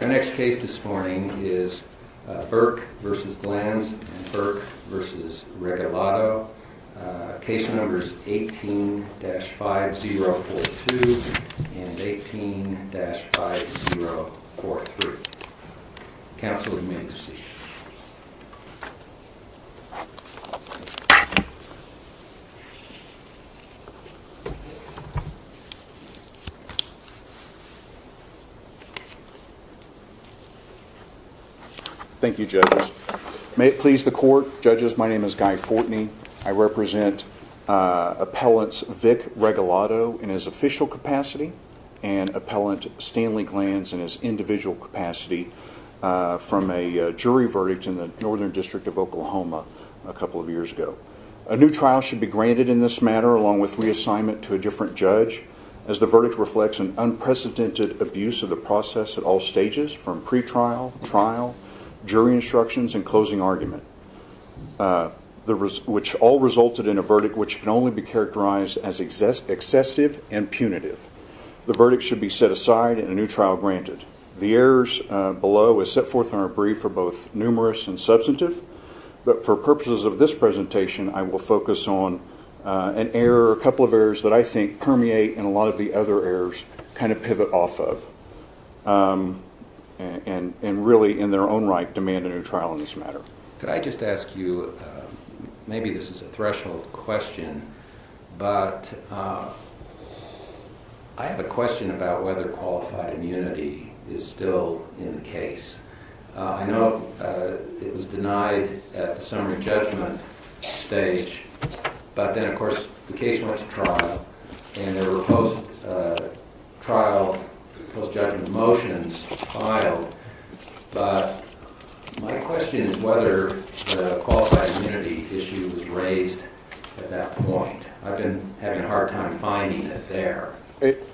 Our next case this morning is Burke v. Glanz and Burke v. Regalado. Case numbers 18-5042 and 18-5043. Counsel would you be so kind as to see them? Thank you judges. May it please the court, judges, my name is Guy Fortney. I represent appellants Vic Regalado in his official capacity and appellant Stanley Glanz in his individual capacity from a jury verdict in the Northern District of Oklahoma a couple of years ago. A new trial should be granted in this matter along with reassignment to a different judge as the verdict reflects an unprecedented abuse of the process at all stages from pre-trial, trial, jury instructions and closing argument which all resulted in a verdict which can only be characterized as excessive and punitive. The verdict should be set aside and a new trial granted. The errors below is set forth in our brief for both numerous and substantive but for purposes of this presentation I will focus on an error, a couple of errors that I think permeate and a lot of the other errors kind of pivot off of and really in their own right demand a new trial in this matter. Could I just ask you, maybe this is a threshold question, but I have a question about whether qualified immunity is still in the case. I know it was denied at the summary judgment stage but then of course the case went to trial and there were post-trial, post-judgment motions filed. My question is whether the qualified immunity issue was raised at that point. I've been having a hard time finding it there.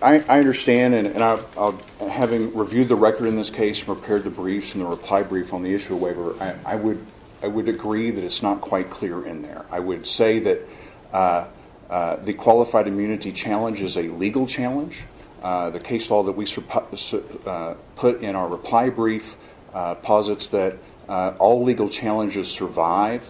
I understand and having reviewed the record in this case, prepared the briefs and the reply brief on the issue waiver, I would agree that it's not quite clear in there. I would say that the qualified immunity challenge is a legal challenge. The case law that we put in our reply brief posits that all legal challenges survive.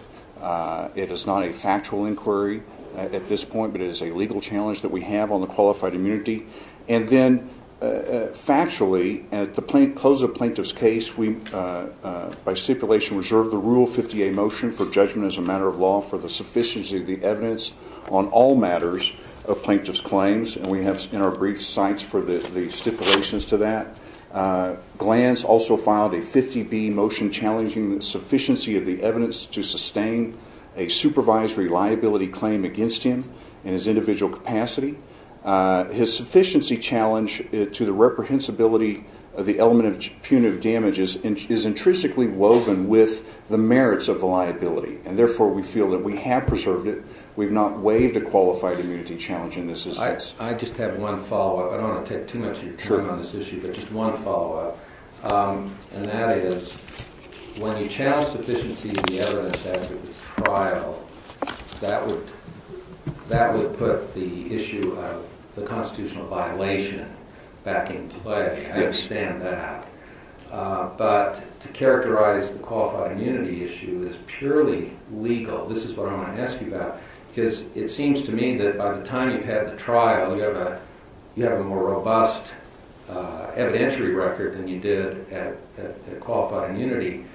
It is not a factual inquiry at this point but it is a legal challenge that we have on the qualified immunity. And then factually, at the close of the plaintiff's case, we by stipulation reserved the Rule 50A motion for judgment as a matter of law for the sufficiency of the evidence on all matters of plaintiff's claims and we have in our briefs sites for the stipulations to that. Glantz also filed a 50B motion challenging the sufficiency of the evidence to sustain a supervisory liability claim against him in his individual capacity. His sufficiency challenge to the reprehensibility of the element of punitive damage is intrinsically woven with the merits of the liability and therefore we feel that we have preserved it. We've not waived the qualified immunity challenge in this instance. I just have one follow-up. I don't want to take too much of your time on this issue but just one follow-up. And that is, when you challenge sufficiency of the evidence after the trial, that would put the issue of the constitutional violation back in play. I understand that. But to characterize the qualified immunity issue as purely legal, this is what I want to ask you about. Because it seems to me that by the time you've had the trial, you have a more robust evidentiary record than you did at qualified immunity.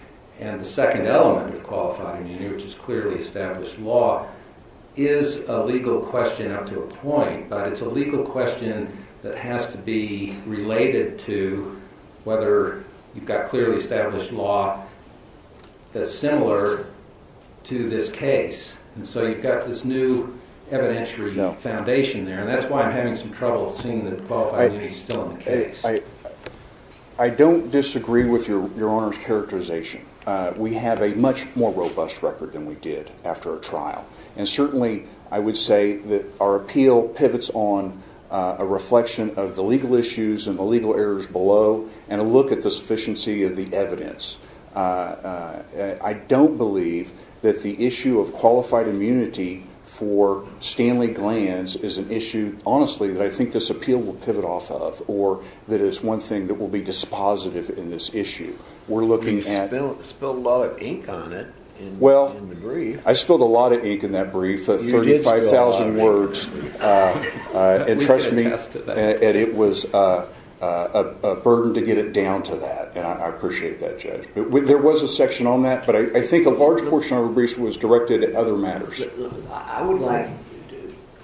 And the second element of qualified immunity, which is clearly established law, is a legal question up to a point. But it's a legal question that has to be related to whether you've got clearly established law that's similar to this case. And so you've got this new evidentiary foundation there. And that's why I'm having some trouble seeing that qualified immunity is still in the case. I don't disagree with your Honor's characterization. We have a much more robust record than we did after a trial. And certainly I would say that our appeal pivots on a reflection of the legal issues and the legal errors below and a look at the sufficiency of the evidence. I don't believe that the issue of qualified immunity for Stanley Glanz is an issue, honestly, that I think this appeal will pivot off of or that it is one thing that will be dispositive in this issue. We're looking at... You spilled a lot of ink on it in the brief. I spilled a lot of ink in that brief, 35,000 words. And trust me, it was a burden to get it down to that. And I appreciate that, Judge. There was a section on that, but I think a large portion of the brief was directed at other matters. I would like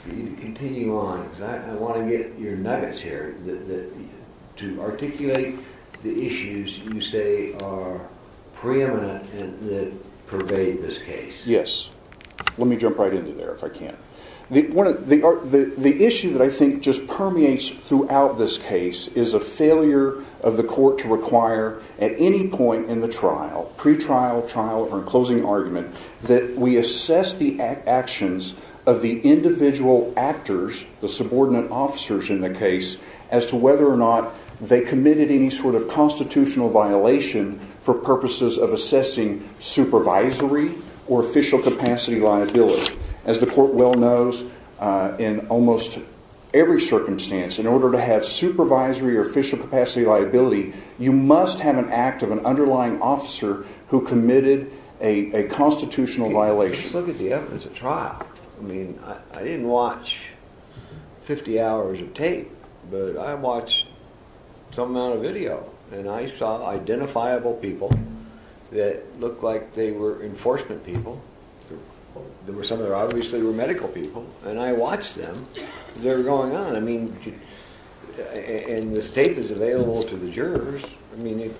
for you to continue on because I want to get your nuggets here to articulate the issues you say are preeminent that pervade this case. Yes. Let me jump right into there if I can. The issue that I think just permeates throughout this case is a failure of the court to require at any point in the trial, pre-trial, trial, or in closing argument, that we assess the actions of the individual actors, the subordinate officers in the case, as to whether or not they committed any sort of constitutional violation for purposes of assessing supervisory or official capacity liability. As the court well knows, in almost every circumstance, in order to have supervisory or official capacity liability, you must have an act of an underlying officer who committed a constitutional violation. Let's look at the evidence of trial. I mean, I didn't watch 50 hours of tape, but I watched some amount of video, and I saw identifiable people that looked like they were enforcement people. Some of them obviously were medical people. And I watched them as they were going on. I mean, and this tape is available to the jurors. I mean,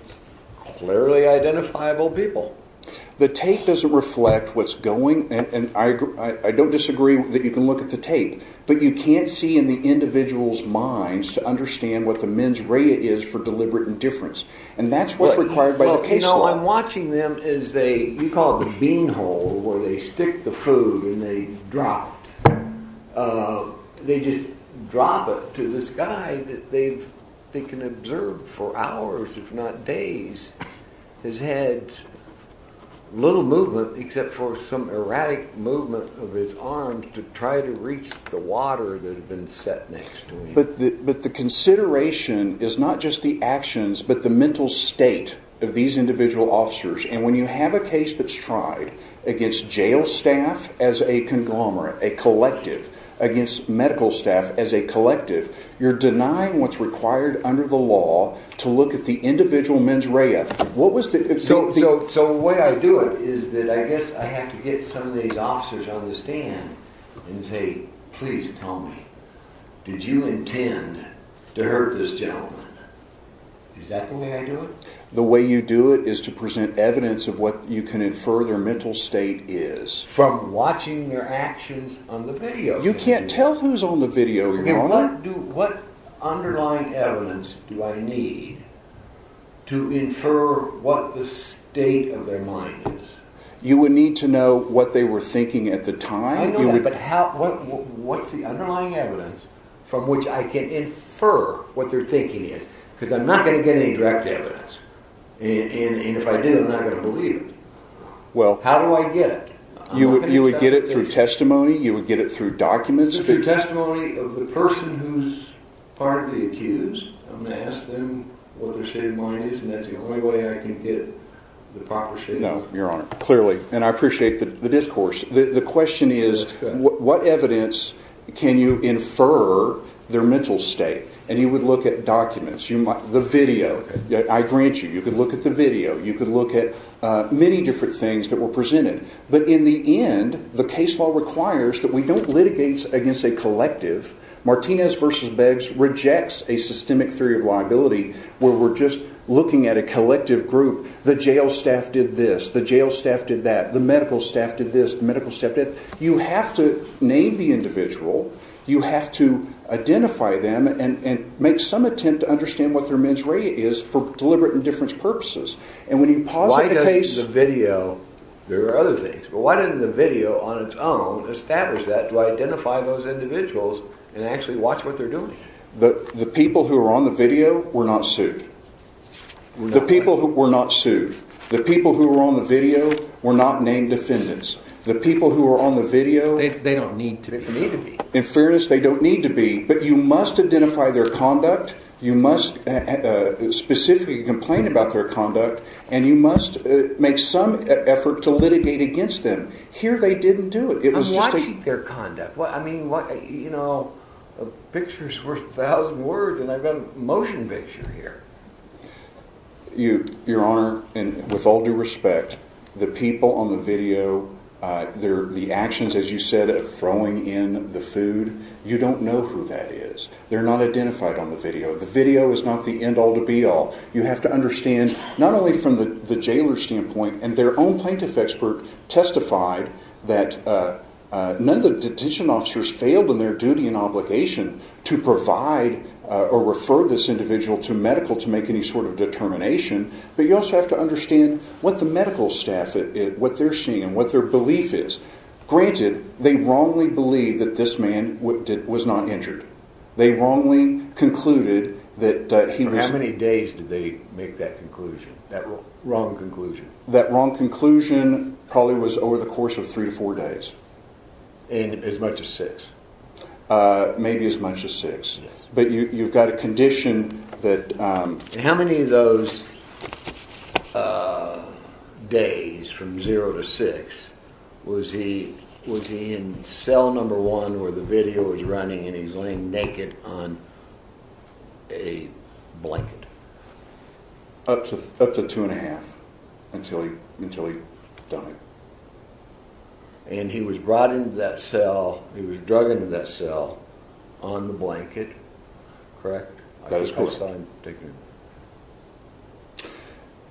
clearly identifiable people. The tape doesn't reflect what's going, and I don't disagree that you can look at the tape, but you can't see in the individual's minds to understand what the mens rea is for deliberate indifference. And that's what's required by the case law. No, I'm watching them as they, you call it the bean hole, where they stick the food and they drop it. They just drop it to this guy that they can observe for hours, if not days, his head, little movement except for some erratic movement of his arms to try to reach the water that had been set next to him. But the consideration is not just the actions, but the mental state of these individual officers. And when you have a case that's tried against jail staff as a conglomerate, a collective, against medical staff as a collective, you're denying what's required under the law to look at the individual mens rea. So the way I do it is that I guess I have to get some of these officers on the stand and say, please tell me, did you intend to hurt this gentleman? Is that the way I do it? The way you do it is to present evidence of what you can infer their mental state is. From watching their actions on the video. You can't tell who's on the video, your Honor. What underlying evidence do I need to infer what the state of their mind is? You would need to know what they were thinking at the time. I know that, but what's the underlying evidence from which I can infer what their thinking is? Because I'm not going to get any direct evidence. And if I did, I'm not going to believe it. How do I get it? You would get it through testimony, you would get it through documents. It's through testimony of the person who's partly accused. I'm going to ask them what their state of mind is, and that's the only way I can get the proper statement. No, your Honor. Clearly. And I appreciate the discourse. The question is, what evidence can you infer their mental state? And you would look at documents. The video. I grant you, you could look at the video. You could look at many different things that were presented. But in the end, the case law requires that we don't litigate against a collective. Martinez v. Beggs rejects a systemic theory of liability where we're just looking at a collective group. The jail staff did this. The jail staff did that. The medical staff did this. The medical staff did that. You have to name the individual. You have to identify them and make some attempt to understand what their mens rea is for deliberate and different purposes. Why doesn't the video on its own establish that to identify those individuals and actually watch what they're doing? The people who were on the video were not sued. The people who were on the video were not named defendants. They don't need to be. In fairness, they don't need to be, but you must identify their conduct. You must specifically complain about their conduct, and you must make some effort to litigate against them. Here they didn't do it. I'm watching their conduct. I mean, you know, a picture's worth a thousand words, and I've got a motion picture here. Your Honor, with all due respect, the people on the video, the actions, as you said, of throwing in the food, you don't know who that is. They're not identified on the video. The video is not the end-all to be-all. You have to understand not only from the jailer's standpoint, and their own plaintiff expert testified that none of the detention officers failed in their duty and obligation to provide or refer this individual to medical to make any sort of determination, but you also have to understand what the medical staff, what they're seeing and what their belief is. Granted, they wrongly believed that this man was not injured. They wrongly concluded that he was... How many days did they make that conclusion, that wrong conclusion? That wrong conclusion probably was over the course of three to four days. And as much as six? Maybe as much as six. Yes. But you've got a condition that... How many of those days from zero to six was he in cell number one where the video was running and he's laying naked on a blanket? Up to two and a half until he died. And he was brought into that cell, he was drug into that cell on the blanket, correct? That is correct.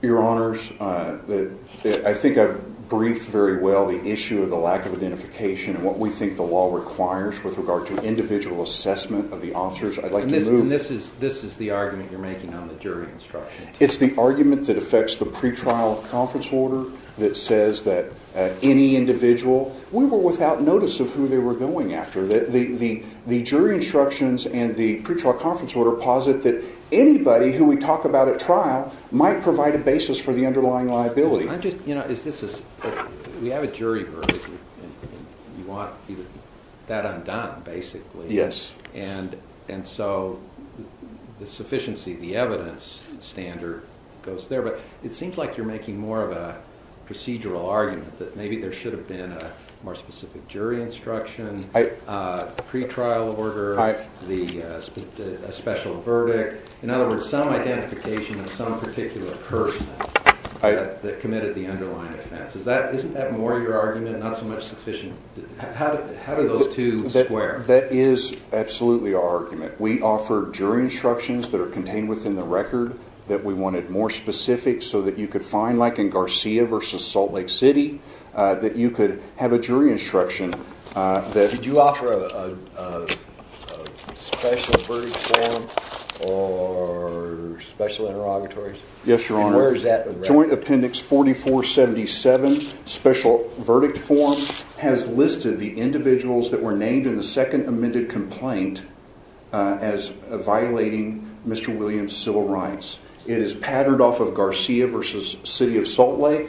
Your Honors, I think I've briefed very well the issue of the lack of identification and what we think the law requires with regard to individual assessment of the officers. I'd like to move... And this is the argument you're making on the jury instruction. It's the argument that affects the pretrial conference order that says that any individual... We were without notice of who they were going after. The jury instructions and the pretrial conference order posit that anybody who we talk about at trial might provide a basis for the underlying liability. We have a jury verdict and you want that undone, basically. Yes. And so the sufficiency, the evidence standard goes there. But it seems like you're making more of a procedural argument that maybe there should have been a more specific jury instruction, pretrial order, a special verdict. In other words, some identification of some particular person that committed the underlying offense. Isn't that more your argument, not so much sufficient? How do those two square? That is absolutely our argument. We offer jury instructions that are contained within the record that we wanted more specific so that you could find, like in Garcia versus Salt Lake City, that you could have a jury instruction. Did you offer a special verdict form or special interrogatories? Yes, Your Honor. And where is that? It is patterned off of Garcia versus City of Salt Lake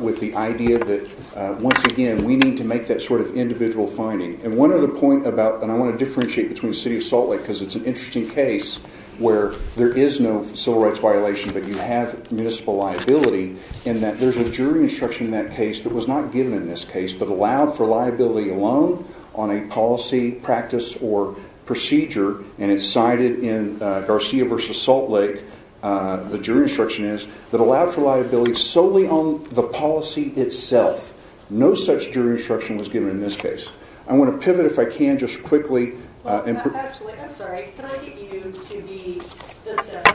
with the idea that, once again, we need to make that sort of individual finding. And one other point about, and I want to differentiate between City of Salt Lake because it's an interesting case where there is no civil rights violation, but you have municipal liability. And that there's a jury instruction in that case that was not given in this case, but allowed for liability alone on a policy, practice, or procedure. And it's cited in Garcia versus Salt Lake, the jury instruction is, that allowed for liability solely on the policy itself. No such jury instruction was given in this case. I want to pivot, if I can, just quickly. Actually, I'm sorry, can I get you to be specific?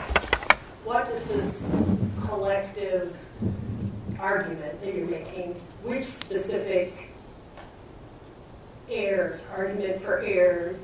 What is this collective argument that you're making? Which specific errors, argument for error,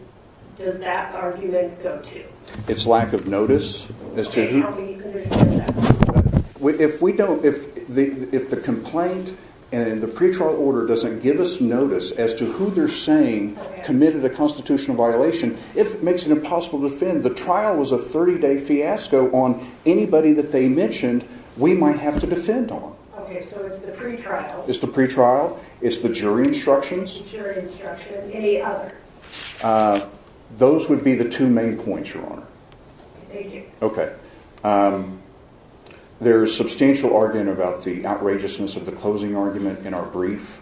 does that argument go to? It's lack of notice. Okay, how can you understand that? If we don't, if the complaint and the pretrial order doesn't give us notice as to who they're saying committed a constitutional violation, it makes it impossible to defend. The trial was a 30-day fiasco on anybody that they mentioned we might have to defend on. Okay, so it's the pretrial. It's the pretrial, it's the jury instructions. It's the jury instructions, any other? Those would be the two main points, Your Honor. Thank you. Okay, there is substantial argument about the outrageousness of the closing argument in our brief.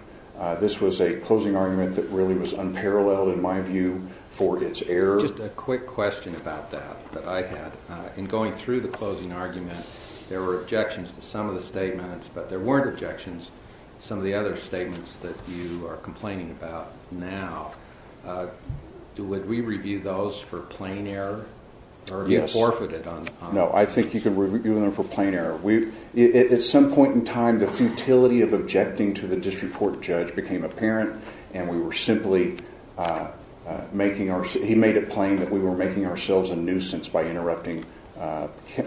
This was a closing argument that really was unparalleled, in my view, for its error. Just a quick question about that, that I had. In going through the closing argument, there were objections to some of the statements, but there weren't objections to some of the other statements that you are complaining about now. Would we review those for plain error? No, I think you can review them for plain error. At some point in time, the futility of objecting to the disreport judge became apparent, and we were simply making ourselves a nuisance by interrupting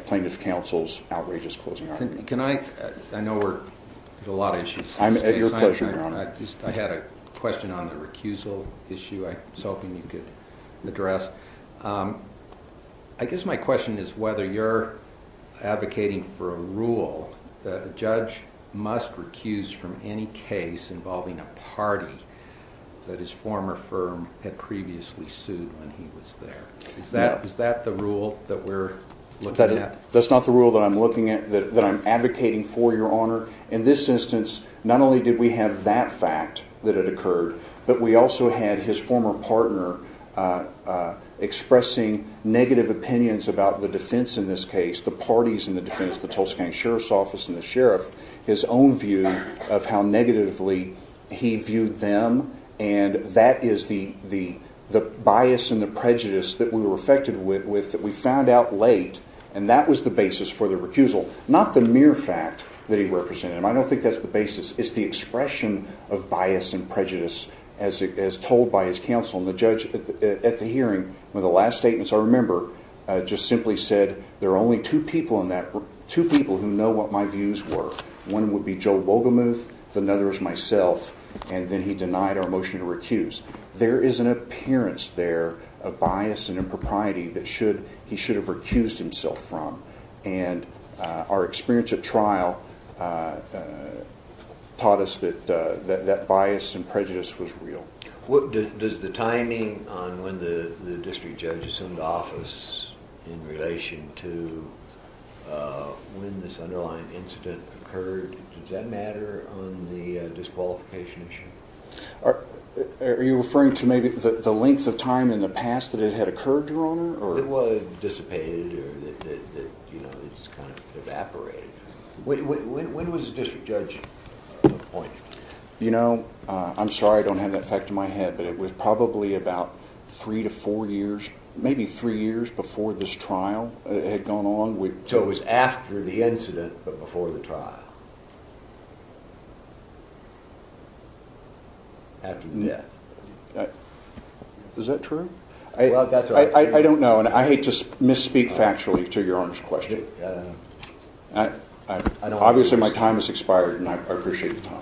plaintiff counsel's outrageous closing argument. I know we're at a lot of issues. At your pleasure, Your Honor. I had a question on the recusal issue I was hoping you could address. I guess my question is whether you're advocating for a rule that a judge must recuse from any case involving a party that his former firm had previously sued when he was there. Is that the rule that we're looking at? That's not the rule that I'm looking at, that I'm advocating for, Your Honor. In this instance, not only did we have that fact that it occurred, but we also had his former partner expressing negative opinions about the defense in this case, the parties in the defense, the Tulsa County Sheriff's Office and the sheriff, his own view of how negatively he viewed them. That is the bias and the prejudice that we were affected with that we found out late, and that was the basis for the recusal, not the mere fact that he represented them. I don't think that's the basis. It's the expression of bias and prejudice as told by his counsel. The judge at the hearing, one of the last statements I remember, just simply said, there are only two people who know what my views were. One would be Joe Wolgamuth, the other is myself, and then he denied our motion to recuse. There is an appearance there of bias and impropriety that he should have recused himself from, and our experience at trial taught us that that bias and prejudice was real. Does the timing on when the district judge assumed office in relation to when this underlying incident occurred, does that matter on the disqualification issue? Are you referring to maybe the length of time in the past that it had occurred, Your Honor? It was dissipated or it just kind of evaporated. When was the district judge appointed? You know, I'm sorry I don't have that fact in my head, but it was probably about three to four years, maybe three years before this trial had gone on. So it was after the incident but before the trial? After the death. Is that true? I don't know, and I hate to misspeak factually to Your Honor's question. Obviously my time has expired and I appreciate the time.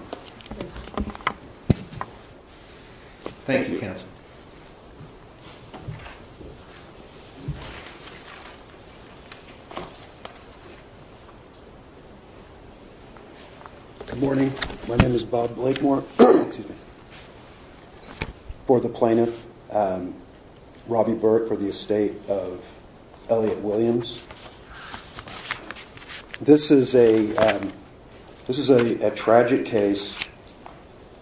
Thank you, counsel. Good morning. My name is Bob Blakemore. For the plaintiff, Robbie Burke, for the estate of Elliot Williams. This is a tragic case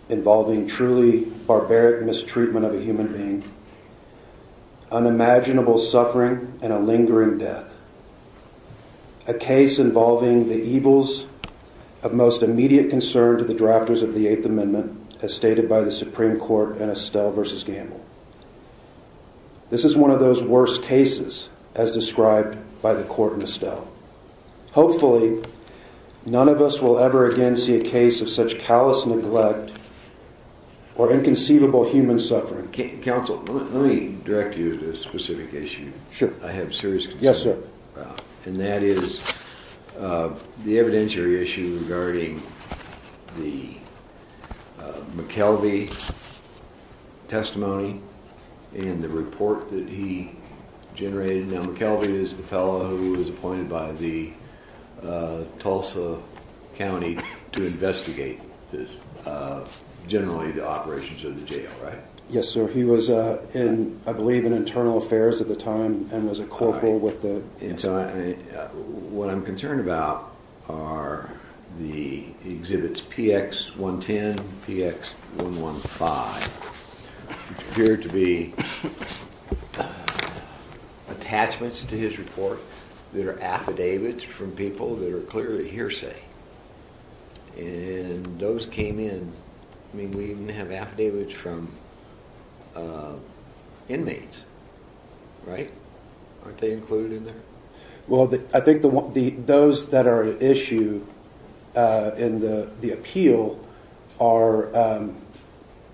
involving truly barbaric mistreatment of a human being, unimaginable suffering, and a lingering death. A case involving the evils of most immediate concern to the drafters of the Eighth Amendment, as stated by the Supreme Court in Estelle v. Gamble. This is one of those worst cases as described by the court in Estelle. Hopefully, none of us will ever again see a case of such callous neglect or inconceivable human suffering. Counsel, let me direct you to a specific issue. Sure. I have serious concern. Yes, sir. And that is the evidentiary issue regarding the McKelvey testimony and the report that he generated. Now McKelvey is the fellow who was appointed by the Tulsa County to investigate this, generally the operations of the jail, right? Yes, sir. He was, I believe, in internal affairs at the time and was a corporal with the… What I'm concerned about are the exhibits PX110, PX115, which appear to be attachments to his report that are affidavits from people that are clearly hearsay. And those came in. I mean, we even have affidavits from inmates, right? Aren't they included in there? Well, I think those that are at issue in the appeal are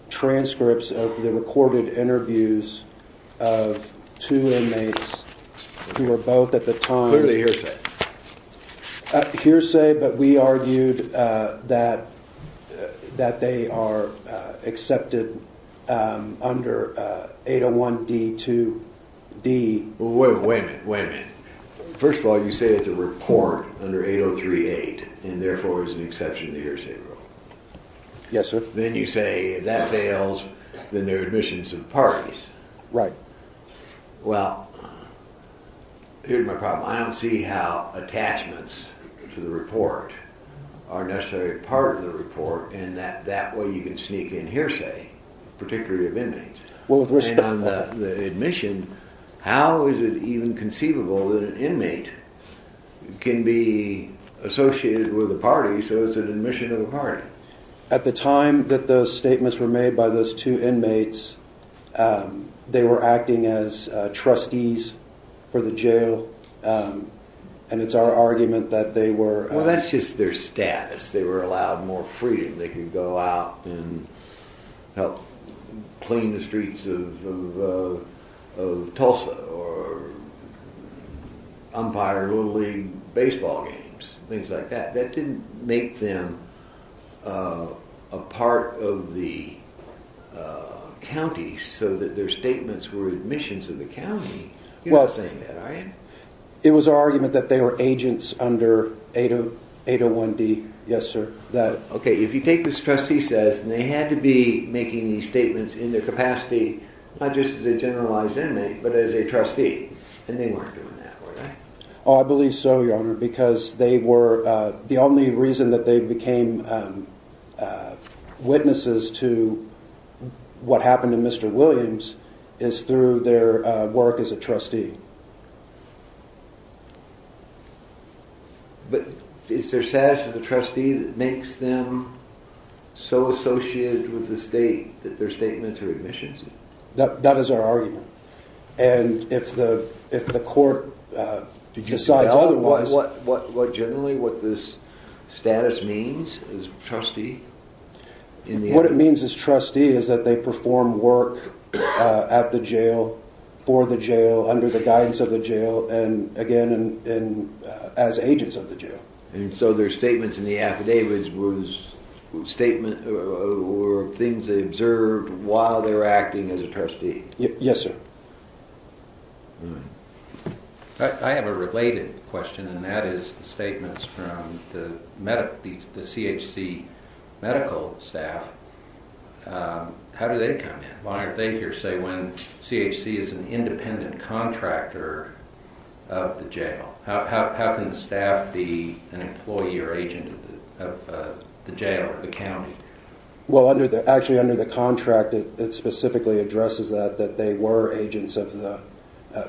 transcripts of the recorded interviews of two inmates who were both at the time… Clearly hearsay. Hearsay, but we argued that they are accepted under 801-D2-D… Wait a minute, wait a minute. First of all, you say it's a report under 803-8 and therefore is an exception to the hearsay rule. Yes, sir. Then you say if that fails, then they're admissions to the parties. Right. Well, here's my problem. I don't see how attachments to the report are necessarily part of the report in that that way you can sneak in hearsay, particularly of inmates. Well, with respect… And on the admission, how is it even conceivable that an inmate can be associated with a party, so it's an admission to the party? At the time that those statements were made by those two inmates, they were acting as trustees for the jail, and it's our argument that they were… Well, that's just their status. They were allowed more freedom. They could go out and help clean the streets of Tulsa or umpire Little League baseball games, things like that. That didn't make them a part of the county, so that their statements were admissions to the county. You're not saying that, are you? It was our argument that they were agents under 801-D. Yes, sir. Okay, if you take this trustee status, then they had to be making these statements in their capacity, not just as a generalized inmate, but as a trustee, and they weren't doing that, were they? Oh, I believe so, Your Honor, because they were… the only reason that they became witnesses to what happened to Mr. Williams is through their work as a trustee. But is their status as a trustee that makes them so associated with the state that their statements are admissions? That is our argument, and if the court decides otherwise… Do you see what generally this status means, as a trustee? What it means as trustee is that they perform work at the jail, for the jail, under the guidance of the jail, and again, as agents of the jail. And so their statements in the affidavits were things they observed while they were acting as a trustee? Yes, sir. I have a related question, and that is the statements from the CHC medical staff. How do they come in? Why are they here, say, when CHC is an independent contractor of the jail? How can the staff be an employee or agent of the jail or the county? Well, actually, under the contract, it specifically addresses that, that they were agents of the…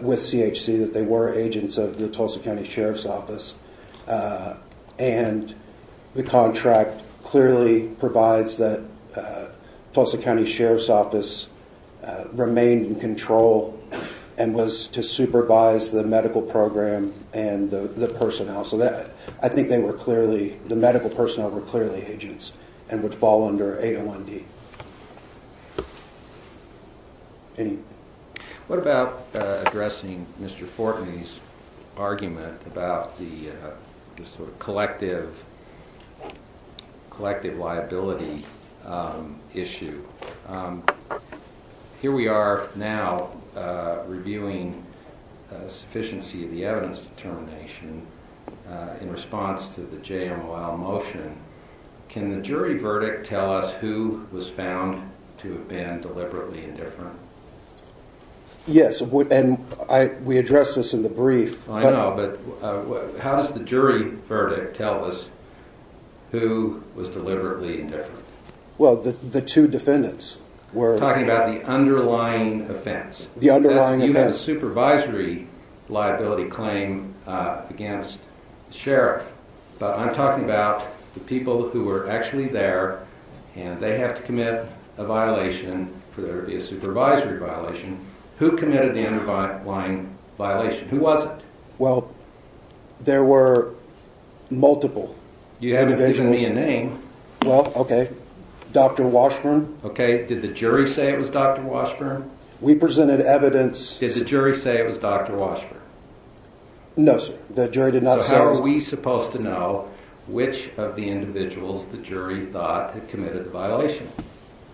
with CHC, that they were agents of the Tulsa County Sheriff's Office. And the contract clearly provides that Tulsa County Sheriff's Office remained in control and was to supervise the medical program and the personnel. So I think they were clearly… the medical personnel were clearly agents and would fall under 801D. What about addressing Mr. Fortney's argument about the sort of collective liability issue? Here we are now reviewing sufficiency of the evidence determination in response to the JMOL motion. Can the jury verdict tell us who was found to have been deliberately indifferent? Yes, and we addressed this in the brief. I know, but how does the jury verdict tell us who was deliberately indifferent? Well, the two defendants were… Talking about the underlying offense. The underlying offense. You have a supervisory liability claim against the sheriff, but I'm talking about the people who were actually there, and they have to commit a violation for there to be a supervisory violation. Who committed the underlying violation? Who was it? Well, there were multiple individuals. You haven't given me a name. Well, okay, Dr. Washburn. Okay, did the jury say it was Dr. Washburn? We presented evidence… Did the jury say it was Dr. Washburn? No, sir, the jury did not say it was… So how are we supposed to know which of the individuals the jury thought had committed the violation?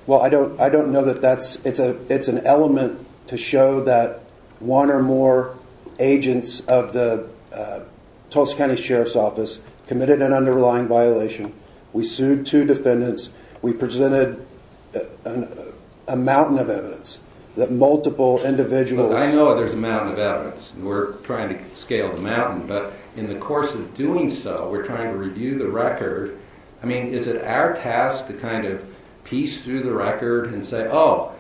Well, I don't know that that's… it's an element to show that one or more agents of the Tulsa County Sheriff's Office committed an underlying violation. We sued two defendants. We presented a mountain of evidence that multiple individuals… Look, I know there's a mountain of evidence, and we're trying to scale the mountain, but in the course of doing so, we're trying to review the record. I mean, is it our task to kind of piece through the record and say, oh,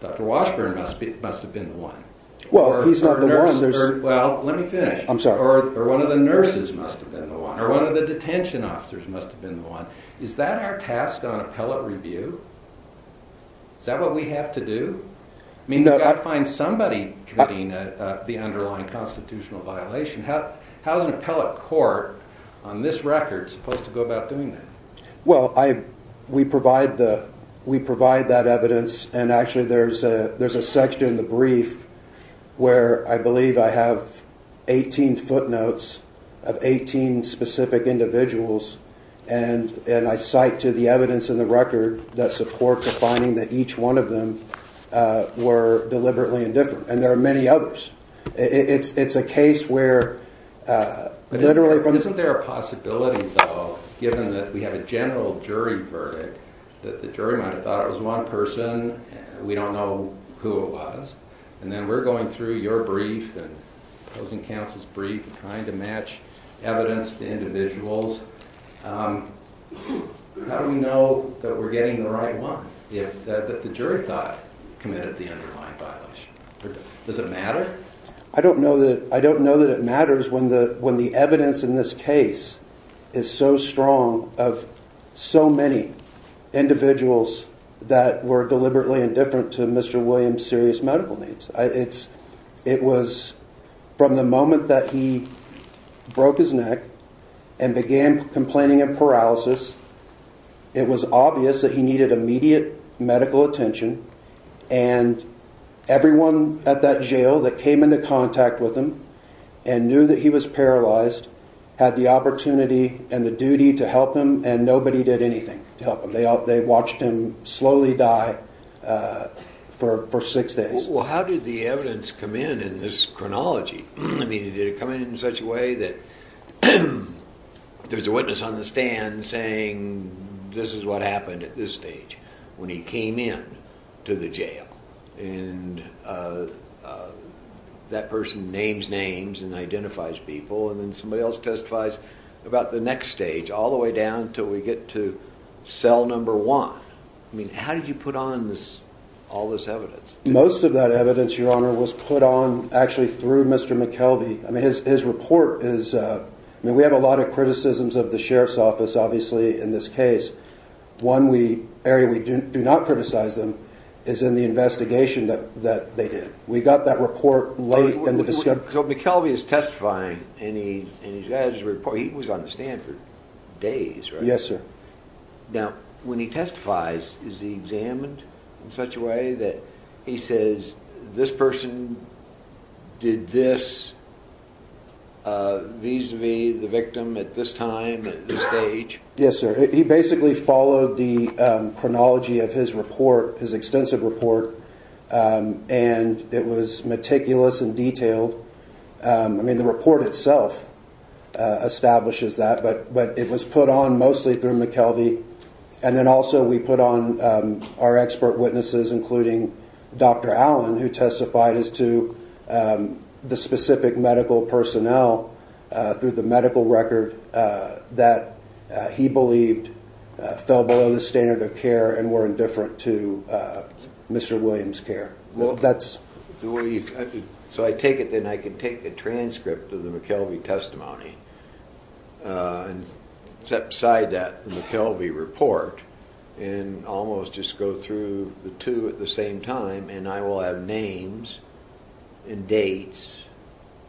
Dr. Washburn must have been the one? Well, he's not the one. Well, let me finish. I'm sorry. Or one of the nurses must have been the one, or one of the detention officers must have been the one. Is that our task on appellate review? Is that what we have to do? I mean, you've got to find somebody committing the underlying constitutional violation. How is an appellate court on this record supposed to go about doing that? Well, we provide that evidence, and actually there's a section in the brief where I believe I have 18 footnotes of 18 specific individuals, and I cite to the evidence in the record that supports a finding that each one of them were deliberately indifferent, and there are many others. It's a case where literally from the… Isn't there a possibility, though, given that we have a general jury verdict, that the jury might have thought it was one person, and we don't know who it was, and then we're going through your brief and opposing counsel's brief and trying to match evidence to individuals. How do we know that we're getting the right one, that the jury thought committed the underlying violation? Does it matter? I don't know that it matters when the evidence in this case is so strong of so many individuals that were deliberately indifferent to Mr. Williams' serious medical needs. It was from the moment that he broke his neck and began complaining of paralysis, it was obvious that he needed immediate medical attention, and everyone at that jail that came into contact with him and knew that he was paralyzed had the opportunity and the duty to help him, and nobody did anything to help him. They watched him slowly die for six days. Well, how did the evidence come in in this chronology? I mean, did it come in in such a way that there was a witness on the stand saying, this is what happened at this stage when he came in to the jail, and that person names names and identifies people, and then somebody else testifies about the next stage all the way down until we get to cell number one? I mean, how did you put on all this evidence? Most of that evidence, Your Honor, was put on actually through Mr. McKelvey. I mean, his report is, I mean, we have a lot of criticisms of the Sheriff's Office, obviously, in this case. One area we do not criticize them is in the investigation that they did. We got that report late in the discussion. So McKelvey is testifying, and he's got his report. He was on the stand for days, right? Yes, sir. Now, when he testifies, is he examined in such a way that he says, this person did this vis-a-vis the victim at this time, at this stage? Yes, sir. He basically followed the chronology of his report, his extensive report, and it was meticulous and detailed. I mean, the report itself establishes that, but it was put on mostly through McKelvey, and then also we put on our expert witnesses, including Dr. Allen, who testified as to the specific medical personnel through the medical record that he believed fell below the standard of care and were indifferent to Mr. Williams' care. So I take it then I can take the transcript of the McKelvey testimony and set aside that McKelvey report and almost just go through the two at the same time, and I will have names and dates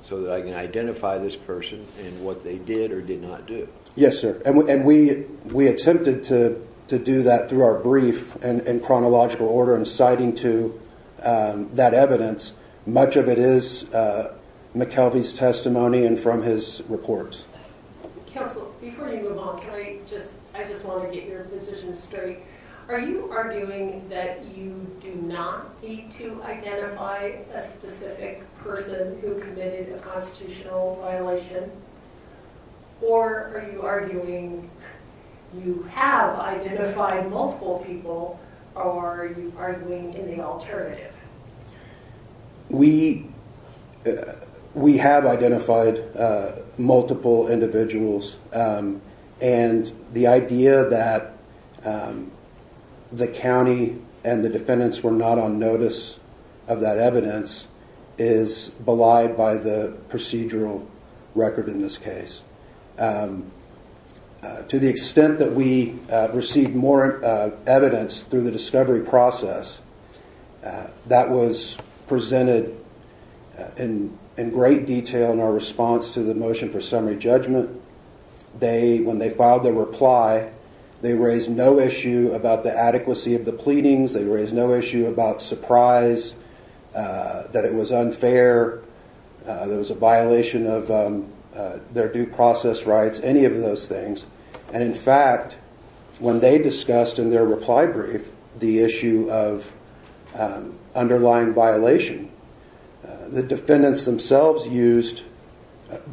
so that I can identify this person and what they did or did not do. Yes, sir. And we attempted to do that through our brief and chronological order in citing to that evidence. Much of it is McKelvey's testimony and from his report. Counsel, before you move on, I just want to get your position straight. Are you arguing that you do not need to identify a specific person who committed a constitutional violation, or are you arguing you have identified multiple people, or are you arguing in the alternative? We have identified multiple individuals, and the idea that the county and the defendants were not on notice of that evidence is belied by the procedural record in this case. To the extent that we received more evidence through the discovery process, that was presented in great detail in our response to the motion for summary judgment. When they filed their reply, they raised no issue about the adequacy of the pleadings. They raised no issue about surprise, that it was unfair, there was a violation of their due process rights, any of those things. And in fact, when they discussed in their reply brief the issue of underlying violation, the defendants themselves used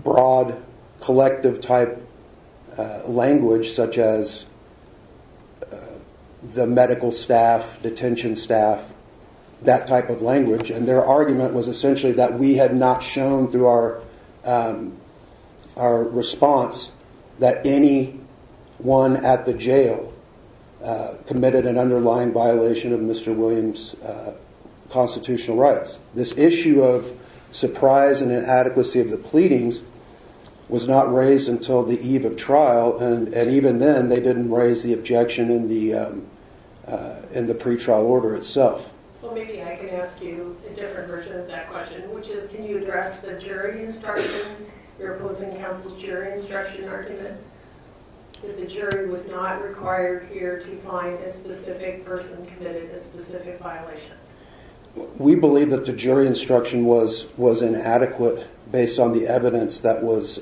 broad, collective-type language, such as the medical staff, detention staff, that type of language. And their argument was essentially that we had not shown through our response that anyone at the jail committed an underlying violation of Mr. Williams' constitutional rights. This issue of surprise and inadequacy of the pleadings was not raised until the eve of trial, and even then they didn't raise the objection in the pretrial order itself. Well, maybe I can ask you a different version of that question, which is can you address the jury instruction, your opposing counsel's jury instruction argument, that the jury was not required here to find a specific person committed a specific violation? We believe that the jury instruction was inadequate based on the evidence that was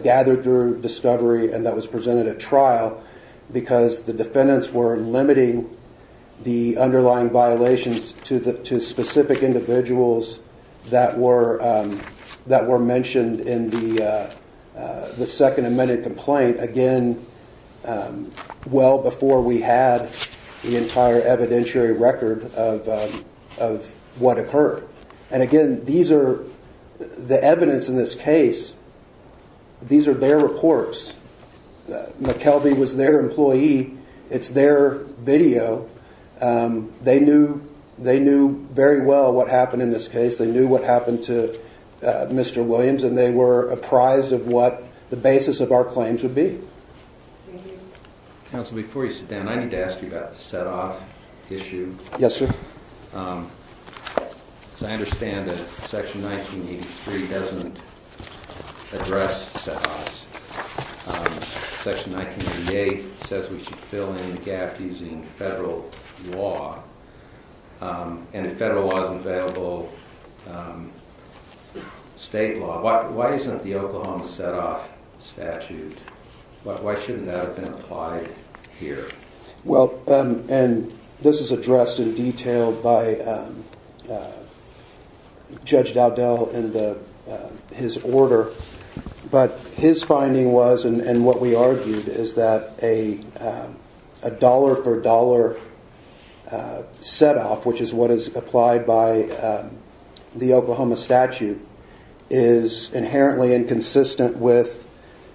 gathered through discovery and that was presented at trial, because the defendants were limiting the underlying violations to specific individuals that were mentioned in the second amended complaint, again, well before we had the entire evidentiary record of what occurred. And again, the evidence in this case, these are their reports. McKelvey was their employee. It's their video. They knew very well what happened in this case. They knew what happened to Mr. Williams, and they were apprised of what the basis of our claims would be. Counsel, before you sit down, I need to ask you about the set-off issue. Yes, sir. Because I understand that Section 1983 doesn't address set-offs. Section 1988 says we should fill in the gap using federal law, and if federal law isn't available, state law. Why isn't the Oklahoma set-off statute? Why shouldn't that have been applied here? Well, and this is addressed in detail by Judge Dowdell in his order, but his finding was, and what we argued, is that a dollar-for-dollar set-off, which is what is applied by the Oklahoma statute, is inherently inconsistent with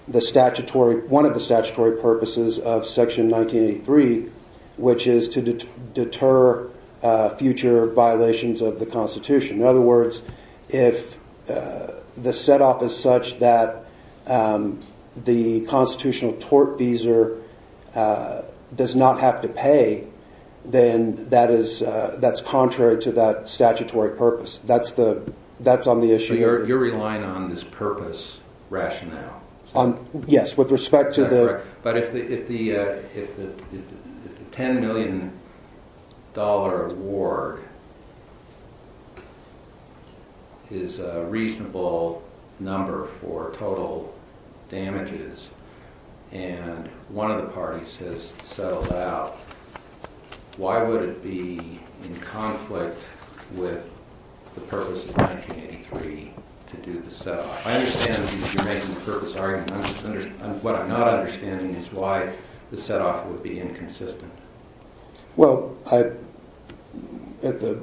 one of the statutory purposes of Section 1983, which is to deter future violations of the Constitution. In other words, if the set-off is such that the constitutional tort fees does not have to pay, then that's contrary to that statutory purpose. That's on the issue. So you're relying on this purpose rationale? Yes, with respect to the— But if the $10 million award is a reasonable number for total damages and one of the parties has settled out, why would it be in conflict with the purpose of 1983 to do the set-off? I understand that you're making the purpose argument. What I'm not understanding is why the set-off would be inconsistent. I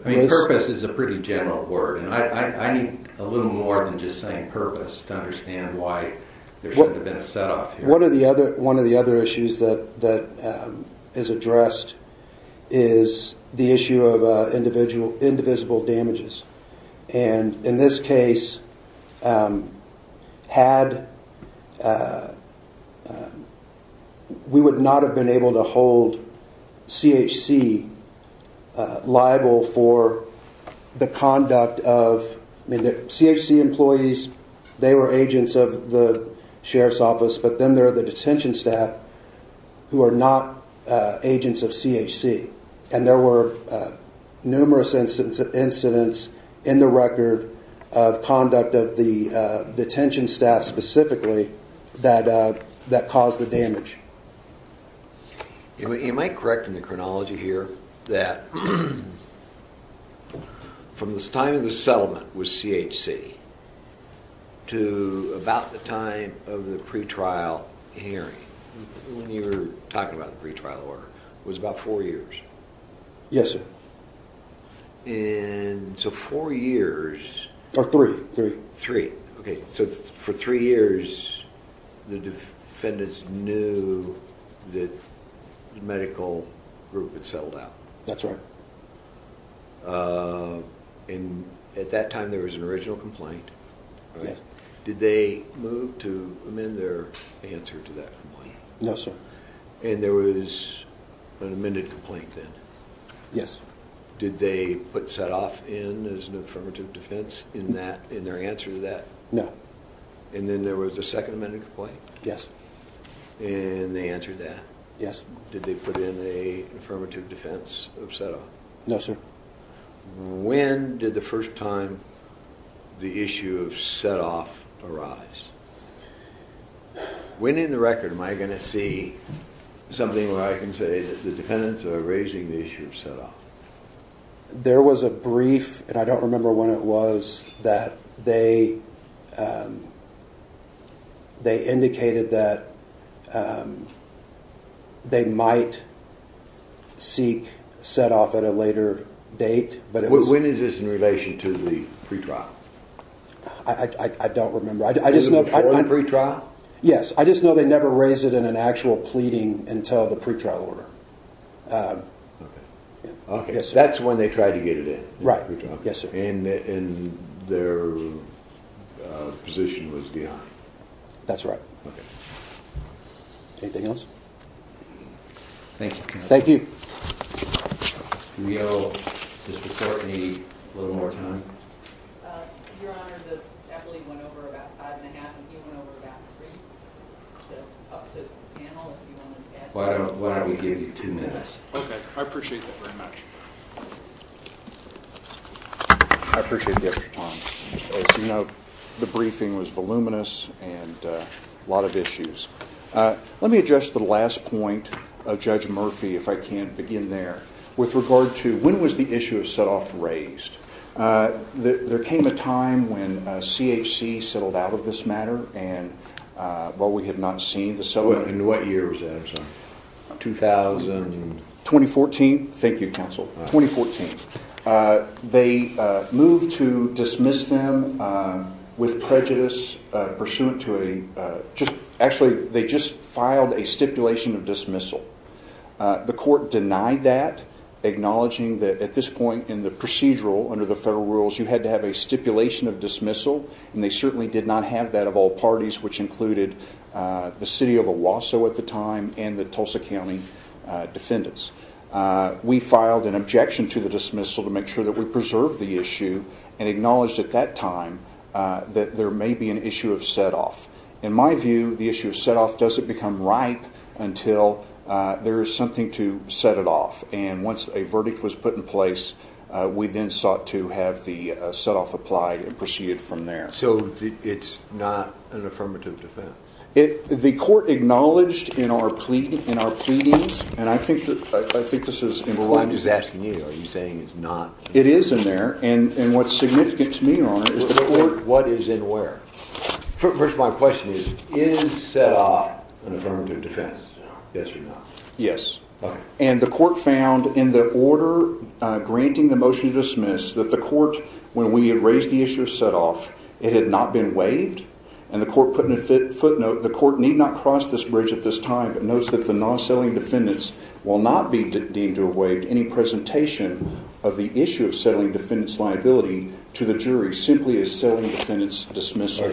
mean, purpose is a pretty general word, and I need a little more than just saying purpose to understand why there shouldn't have been a set-off here. One of the other issues that is addressed is the issue of indivisible damages. And in this case, we would not have been able to hold CHC liable for the conduct of— CHC employees, they were agents of the Sheriff's Office, but then there are the detention staff who are not agents of CHC. And there were numerous incidents in the record of conduct of the detention staff specifically that caused the damage. Am I correct in the chronology here that from the time of the settlement with CHC to about the time of the pretrial hearing, when you were talking about the pretrial order, was about four years? Yes, sir. And so four years... Or three, three. Three, okay. So for three years, the defendants knew that the medical group had settled out? That's right. And at that time, there was an original complaint? Yes. Did they move to amend their answer to that complaint? No, sir. And there was an amended complaint then? Yes. Did they put set-off in as an affirmative defense in their answer to that? No. And then there was a second amended complaint? Yes. And they answered that? Yes. Did they put in an affirmative defense of set-off? No, sir. When did the first time the issue of set-off arise? When in the record am I going to see something where I can say that the defendants are raising the issue of set-off? There was a brief, and I don't remember when it was, that they indicated that they might seek set-off at a later date. When is this in relation to the pretrial? I don't remember. Was it before the pretrial? Yes. I just know they never raised it in an actual pleading until the pretrial order. Okay. That's when they tried to get it in? Right, yes, sir. And their position was beyond? That's right. Okay. Anything else? Thank you. Thank you. Can we give Mr. Courtney a little more time? Your Honor, the deputy went over about five and a half, and he went over about three. Up to the panel, if you want to add anything. Why don't we give you two minutes? Okay. I appreciate that very much. I appreciate the extra time. As you know, the briefing was voluminous and a lot of issues. Let me address the last point of Judge Murphy, if I can begin there. With regard to when was the issue of set-off raised, there came a time when CHC settled out of this matter while we had not seen the settlement. In what year was that, sir? 2014. 2014? Thank you, counsel. 2014. They moved to dismiss them with prejudice pursuant to a Actually, they just filed a stipulation of dismissal. The court denied that, acknowledging that at this point in the procedural, under the federal rules, you had to have a stipulation of dismissal, and they certainly did not have that of all parties, which included the city of Owasso at the time and the Tulsa County defendants. We filed an objection to the dismissal to make sure that we preserved the issue and acknowledged at that time that there may be an issue of set-off. In my view, the issue of set-off doesn't become ripe until there is something to set it off. Once a verdict was put in place, we then sought to have the set-off applied and proceeded from there. So it's not an affirmative defense? The court acknowledged in our pleadings, and I think this is included. I'm just asking you, are you saying it's not? It is in there, and what's significant to me, Ron, is the court What is and where? First of all, my question is, is set-off an affirmative defense? Yes or no? Yes, and the court found in the order granting the motion to dismiss that the court, when we had raised the issue of set-off, it had not been waived, and the court put in a footnote, the court need not cross this bridge at this time, but notice that the non-settling defendants will not be deemed to have waived any presentation of the issue of settling defendants' liability to the jury, simply as settling defendants' dismissal.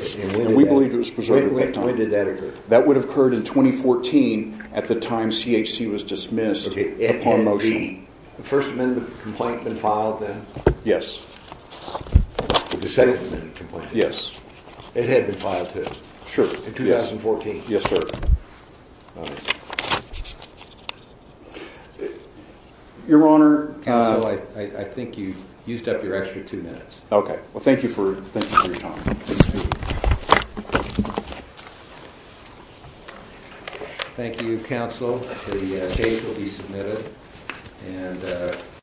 And we believe it was preserved at that time. When did that occur? That would have occurred in 2014 at the time CHC was dismissed upon motion. The first amendment complaint been filed then? Yes. The second amendment complaint? Yes. It had been filed too? Sure, yes. In 2014? Yes, sir. Your Honor? Counsel, I think you used up your extra two minutes. Okay, well thank you for your time. Thank you, counsel. The case will be submitted.